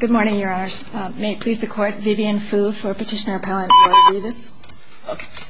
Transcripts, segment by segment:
Good morning, Your Honors. May it please the Court, Vivian Fu for Petitioner Appellant Laura Rivas.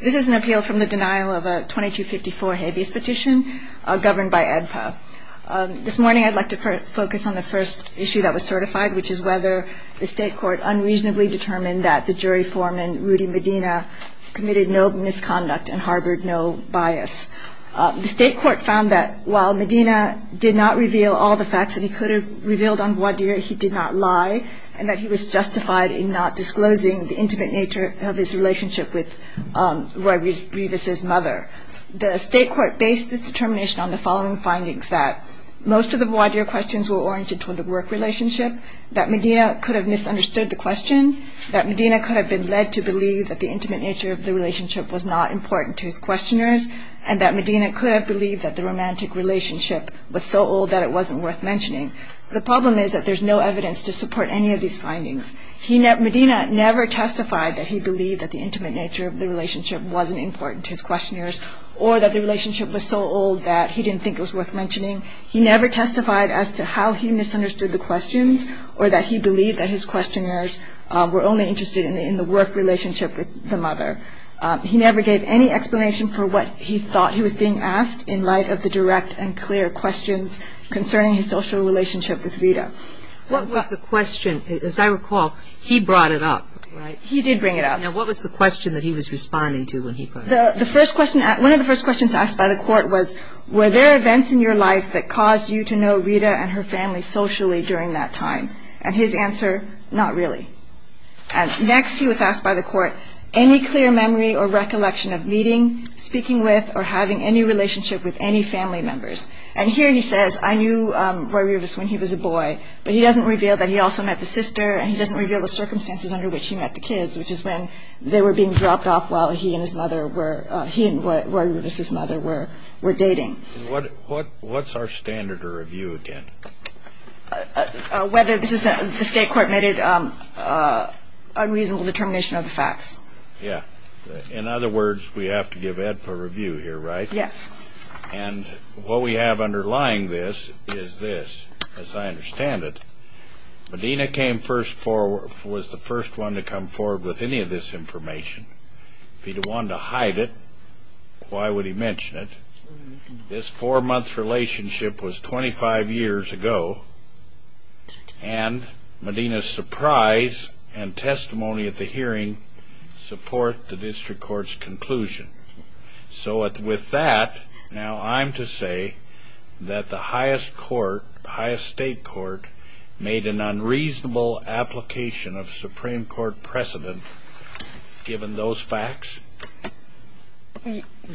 This is an appeal from the denial of a 2254 habeas petition governed by ADPA. This morning I'd like to focus on the first issue that was certified, which is whether the State Court unreasonably determined that the jury foreman, Rudy Medina, committed no misconduct and harbored no bias. The State Court found that while Medina did not reveal all the facts that he could have revealed on voir dire, he did not lie, and that he was justified in not disclosing the intimate nature of his relationship with Roy Rivas' mother. The State Court based this determination on the following findings, that most of the voir dire questions were oriented toward the work relationship, that Medina could have misunderstood the question, that Medina could have been led to believe that the intimate nature of the relationship was not important to his questioners, and that Medina could have believed that the romantic relationship was so old that it wasn't worth mentioning. The problem is that there's no evidence to support any of these findings. Medina never testified that he believed that the intimate nature of the relationship wasn't important to his questioners, or that the relationship was so old that he didn't think it was worth mentioning. He never testified as to how he misunderstood the questions, or that he believed that his questioners were only interested in the work relationship with the mother. He never gave any explanation for what he thought he was being asked, in light of the direct and clear questions concerning his social relationship with Rita. What was the question? As I recall, he brought it up, right? He did bring it up. Now, what was the question that he was responding to when he brought it up? The first question, one of the first questions asked by the court was, were there events in your life that caused you to know Rita and her family socially during that time? And his answer, not really. Next, he was asked by the court, any clear memory or recollection of meeting, speaking with, or having any relationship with any family members? And here he says, I knew Roy Rivas when he was a boy, but he doesn't reveal that he also met the sister, and he doesn't reveal the circumstances under which he met the kids, which is when they were being dropped off while he and his mother were, he and Roy Rivas' mother were dating. What's our standard to review, again? Whether this is the state court made an unreasonable determination of the facts. Yeah. In other words, we have to give AEDPA a review here, right? Yes. And what we have underlying this is this, as I understand it. Medina was the first one to come forward with any of this information. If he wanted to hide it, why would he mention it? This four-month relationship was 25 years ago, and Medina's surprise and testimony at the hearing support the district court's conclusion. So with that, now I'm to say that the highest court, highest state court, made an unreasonable application of Supreme Court precedent given those facts.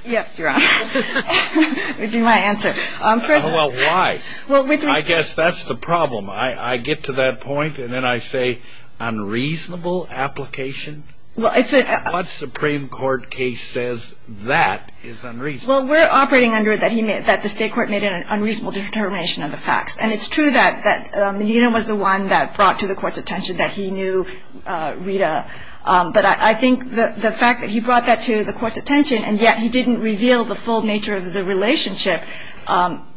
Yes, Your Honor. That would be my answer. Well, why? I guess that's the problem. I get to that point, and then I say unreasonable application? What Supreme Court case says that is unreasonable? Well, we're operating under that the state court made an unreasonable determination of the facts, and it's true that Medina was the one that brought to the court's attention that he knew Rita, but I think the fact that he brought that to the court's attention and yet he didn't reveal the full nature of the relationship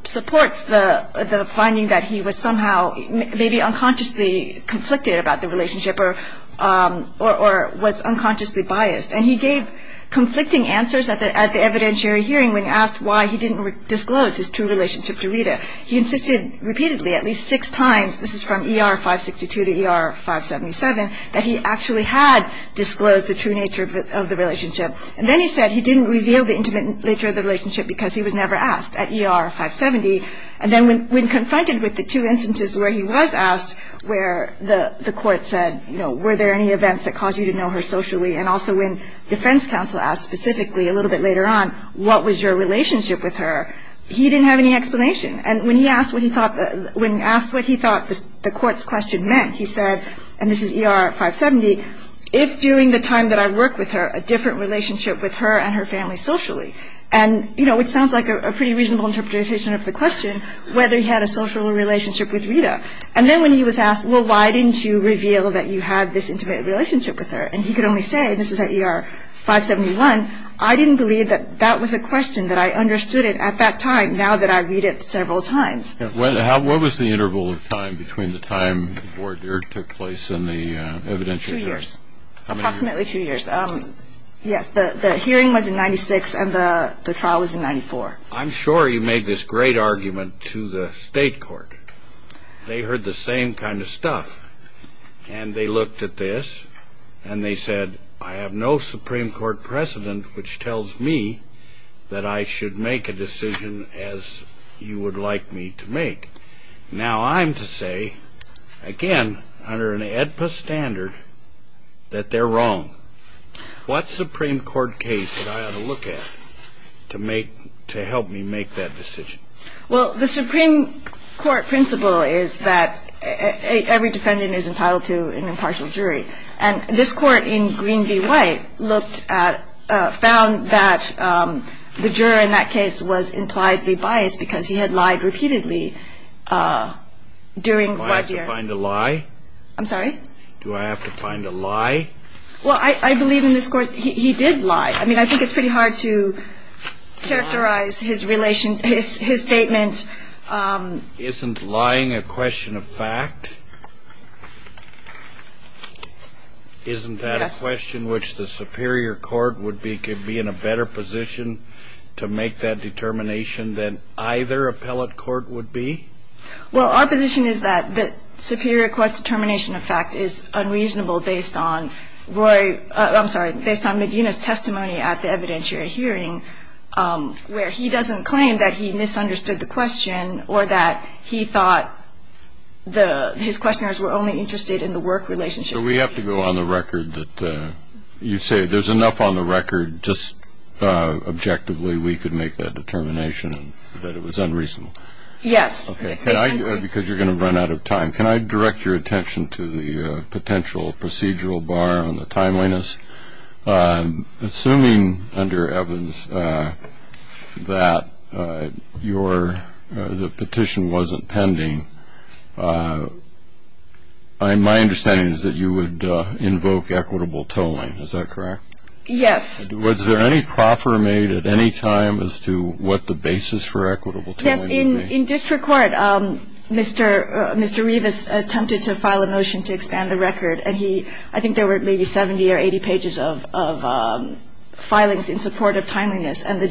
supports the finding that he was somehow maybe unconsciously conflicted about the relationship or was unconsciously biased. And he gave conflicting answers at the evidentiary hearing when asked why he didn't disclose his true relationship to Rita. He insisted repeatedly at least six times, this is from ER 562 to ER 577, that he actually had disclosed the true nature of the relationship. And then he said he didn't reveal the intimate nature of the relationship because he was never asked at ER 570. And then when confronted with the two instances where he was asked where the court said, you know, were there any events that caused you to know her socially, and also when defense counsel asked specifically a little bit later on, what was your relationship with her, he didn't have any explanation. And when he asked what he thought the court's question meant, he said, and this is ER 570, if during the time that I worked with her, a different relationship with her and her family socially. And, you know, it sounds like a pretty reasonable interpretation of the question, whether he had a social relationship with Rita. And then when he was asked, well, why didn't you reveal that you had this intimate relationship with her, and he could only say, this is at ER 571, I didn't believe that that was a question that I understood it at that time now that I read it several times. What was the interval of time between the time the board took place and the evidentiary? Two years. Approximately two years. Yes, the hearing was in 96, and the trial was in 94. I'm sure you made this great argument to the state court. They heard the same kind of stuff. And they looked at this, and they said, I have no Supreme Court precedent which tells me that I should make a decision as you would like me to make. Now I'm to say, again, under an AEDPA standard, that they're wrong. What Supreme Court case did I have to look at to help me make that decision? Well, the Supreme Court principle is that every defendant is entitled to an impartial jury. And this Court in Green v. White looked at, found that the juror in that case was impliedly biased because he had lied repeatedly during White v. Do I have to find a lie? I'm sorry? Do I have to find a lie? Well, I believe in this Court he did lie. I mean, I think it's pretty hard to characterize his relation, his statement. Isn't lying a question of fact? Isn't that a question which the superior court would be in a better position to make that determination than either appellate court would be? Well, our position is that the superior court's determination of fact is unreasonable based on Roy — I'm sorry, based on Medina's testimony at the evidentiary hearing, where he doesn't claim that he misunderstood the question or that he thought his questioners were only interested in the work relationship. So we have to go on the record that you say there's enough on the record, just objectively we could make that determination that it was unreasonable? Yes. Okay. Because you're going to run out of time, can I direct your attention to the potential procedural bar on the timeliness? Assuming, under Evans, that the petition wasn't pending, my understanding is that you would invoke equitable tolling. Is that correct? Yes. Was there any proffer made at any time as to what the basis for equitable tolling would be? Yes. In district court, Mr. Revis attempted to file a motion to expand the record, and I think there were maybe 70 or 80 pages of filings in support of timeliness, and the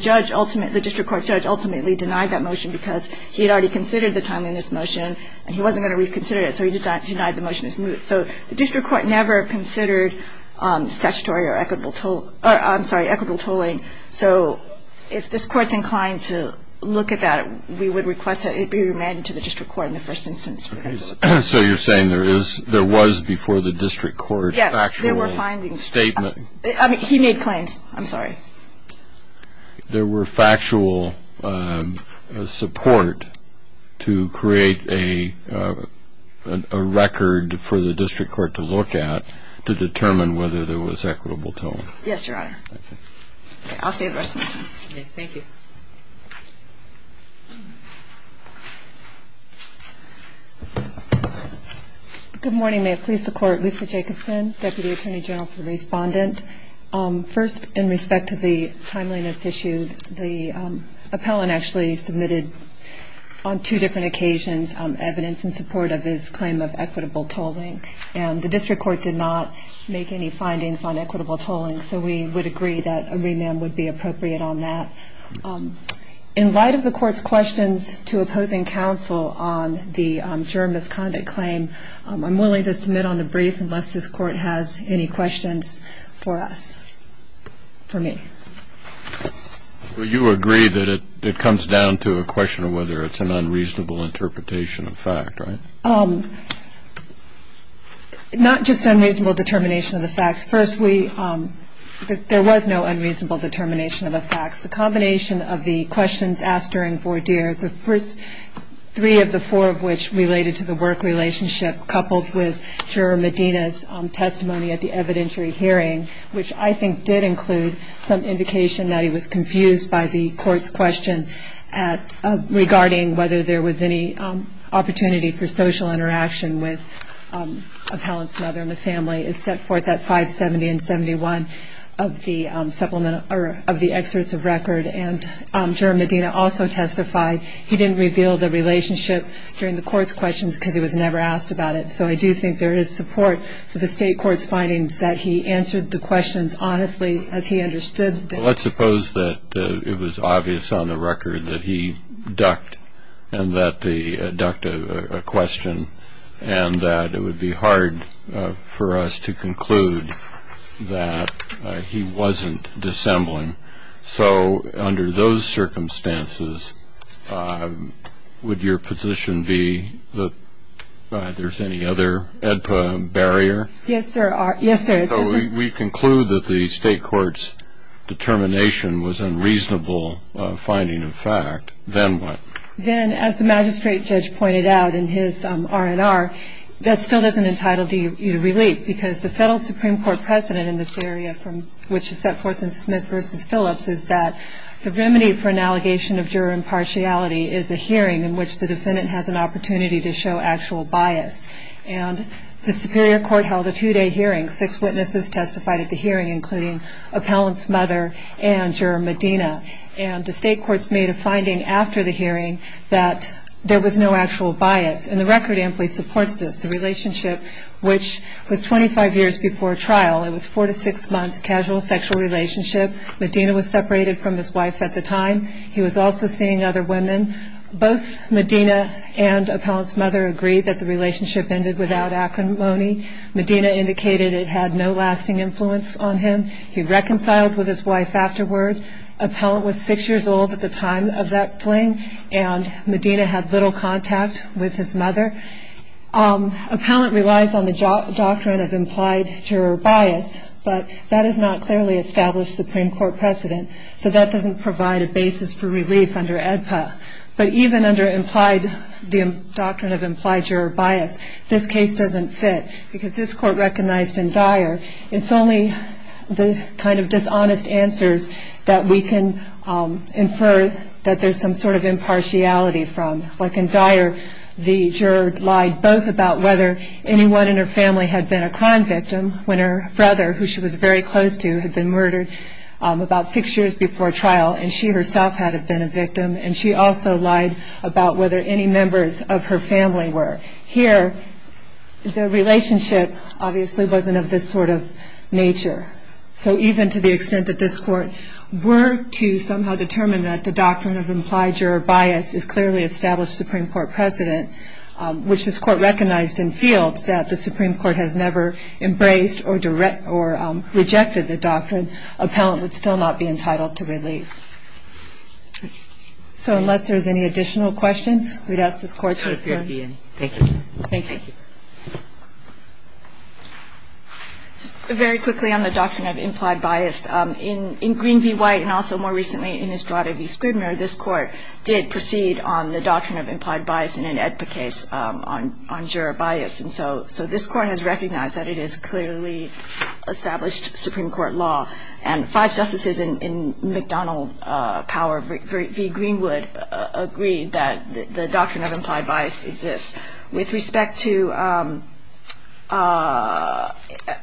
district court judge ultimately denied that motion because he had already considered the timeliness motion, and he wasn't going to reconsider it, so he denied the motion. So the district court never considered statutory or equitable tolling. So if this Court's inclined to look at that, we would request that it be remanded to the district court in the first instance. So you're saying there was, before the district court, factual statement? Yes. He made claims. I'm sorry. There were factual support to create a record for the district court to look at to determine whether there was equitable tolling? Yes, Your Honor. Okay. I'll stay the rest of my time. Okay. Thank you. Good morning. May it please the Court. Lisa Jacobson, Deputy Attorney General for the Respondent. First, in respect to the timeliness issue, the appellant actually submitted on two different occasions evidence in support of his claim of equitable tolling, and the district court did not make any findings on equitable tolling, so we would agree that a remand would be appropriate on that. In light of the Court's questions to opposing counsel on the juror misconduct claim, I'm willing to submit on the brief unless this Court has any questions for us, for me. You agree that it comes down to a question of whether it's an unreasonable interpretation of fact, right? Not just unreasonable determination of the facts. First, there was no unreasonable determination of the facts. The combination of the questions asked during voir dire, the first three of the four of which related to the work relationship, coupled with Juror Medina's testimony at the evidentiary hearing, which I think did include some indication that he was confused by the Court's question regarding whether there was any opportunity for social interaction with appellant's mother and the family, is set forth at 570 and 71 of the excerpts of record. And Juror Medina also testified he didn't reveal the relationship during the Court's questions because he was never asked about it. So I do think there is support for the State Court's findings that he answered the questions honestly, as he understood them. Let's suppose that it was obvious on the record that he ducked and that they ducked a question and that it would be hard for us to conclude that he wasn't dissembling. So under those circumstances, would your position be that there's any other EDPA barrier? Yes, sir. So we conclude that the State Court's determination was unreasonable finding of fact. Then what? Then, as the magistrate judge pointed out in his R&R, that still doesn't entitle you to relief because the settled Supreme Court precedent in this area, which is set forth in Smith v. Phillips, is that the remedy for an allegation of juror impartiality is a hearing in which the defendant has an opportunity to show actual bias. And the Superior Court held a two-day hearing. Six witnesses testified at the hearing, including appellant's mother and Juror Medina. And the State Court's made a finding after the hearing that there was no actual bias. And the record amply supports this. The relationship, which was 25 years before trial, it was a four- to six-month casual sexual relationship. Medina was separated from his wife at the time. He was also seeing other women. Both Medina and appellant's mother agreed that the relationship ended without acrimony. Medina indicated it had no lasting influence on him. He reconciled with his wife afterward. Appellant was six years old at the time of that fling, and Medina had little contact with his mother. Appellant relies on the doctrine of implied juror bias, but that has not clearly established Supreme Court precedent, so that doesn't provide a basis for relief under AEDPA. But even under the doctrine of implied juror bias, this case doesn't fit, because this Court recognized in Dyer, it's only the kind of dishonest answers that we can infer that there's some sort of impartiality from. Like in Dyer, the juror lied both about whether anyone in her family had been a crime victim, when her brother, who she was very close to, had been murdered about six years before trial, and she herself had been a victim. And she also lied about whether any members of her family were. Here, the relationship obviously wasn't of this sort of nature. So even to the extent that this Court were to somehow determine that the doctrine of implied juror bias has clearly established Supreme Court precedent, which this Court recognized in Fields, that the Supreme Court has never embraced or rejected the doctrine, appellant would still not be entitled to relief. So unless there's any additional questions, we'd ask this Court to adjourn. Thank you. Thank you. Just very quickly on the doctrine of implied bias. In Green v. White, and also more recently in Estrada v. Scribner, this Court did proceed on the doctrine of implied bias in an AEDPA case on juror bias. And so this Court has recognized that it has clearly established Supreme Court law. And five justices in McDonnell Power v. Greenwood agreed that the doctrine of implied bias exists. With respect to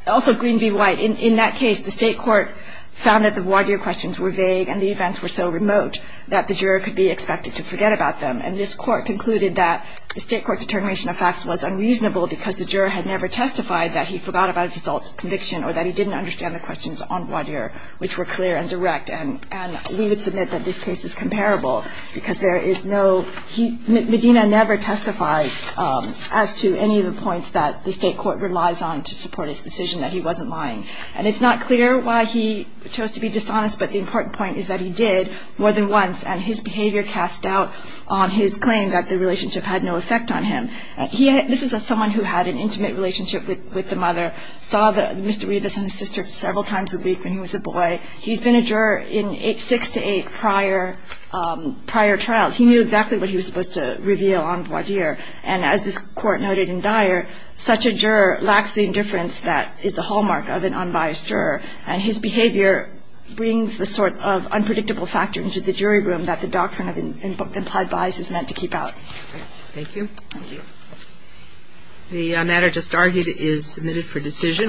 also Green v. White, in that case, the State Court found that the voir dire questions were vague and the events were so remote that the juror could be expected to forget about them. And this Court concluded that the State Court determination of facts was unreasonable because the juror had never testified that he forgot about his assault conviction or that he didn't understand the questions on voir dire, which were clear and direct. And we would submit that this case is comparable because there is no – Medina never testifies as to any of the points that the State Court relies on to support his decision that he wasn't lying. And it's not clear why he chose to be dishonest, but the important point is that he did more than once, and his behavior cast doubt on his claim that the relationship had no effect on him. This is someone who had an intimate relationship with the mother, saw Mr. Rivas and his sister several times a week when he was a boy. He's been a juror in six to eight prior trials. He knew exactly what he was supposed to reveal on voir dire. And as this Court noted in Dyer, such a juror lacks the indifference that is the hallmark of an unbiased juror. And his behavior brings the sort of unpredictable factor into the jury room that the doctrine of implied bias is meant to keep out. Thank you. Thank you. The matter just argued is submitted for decision.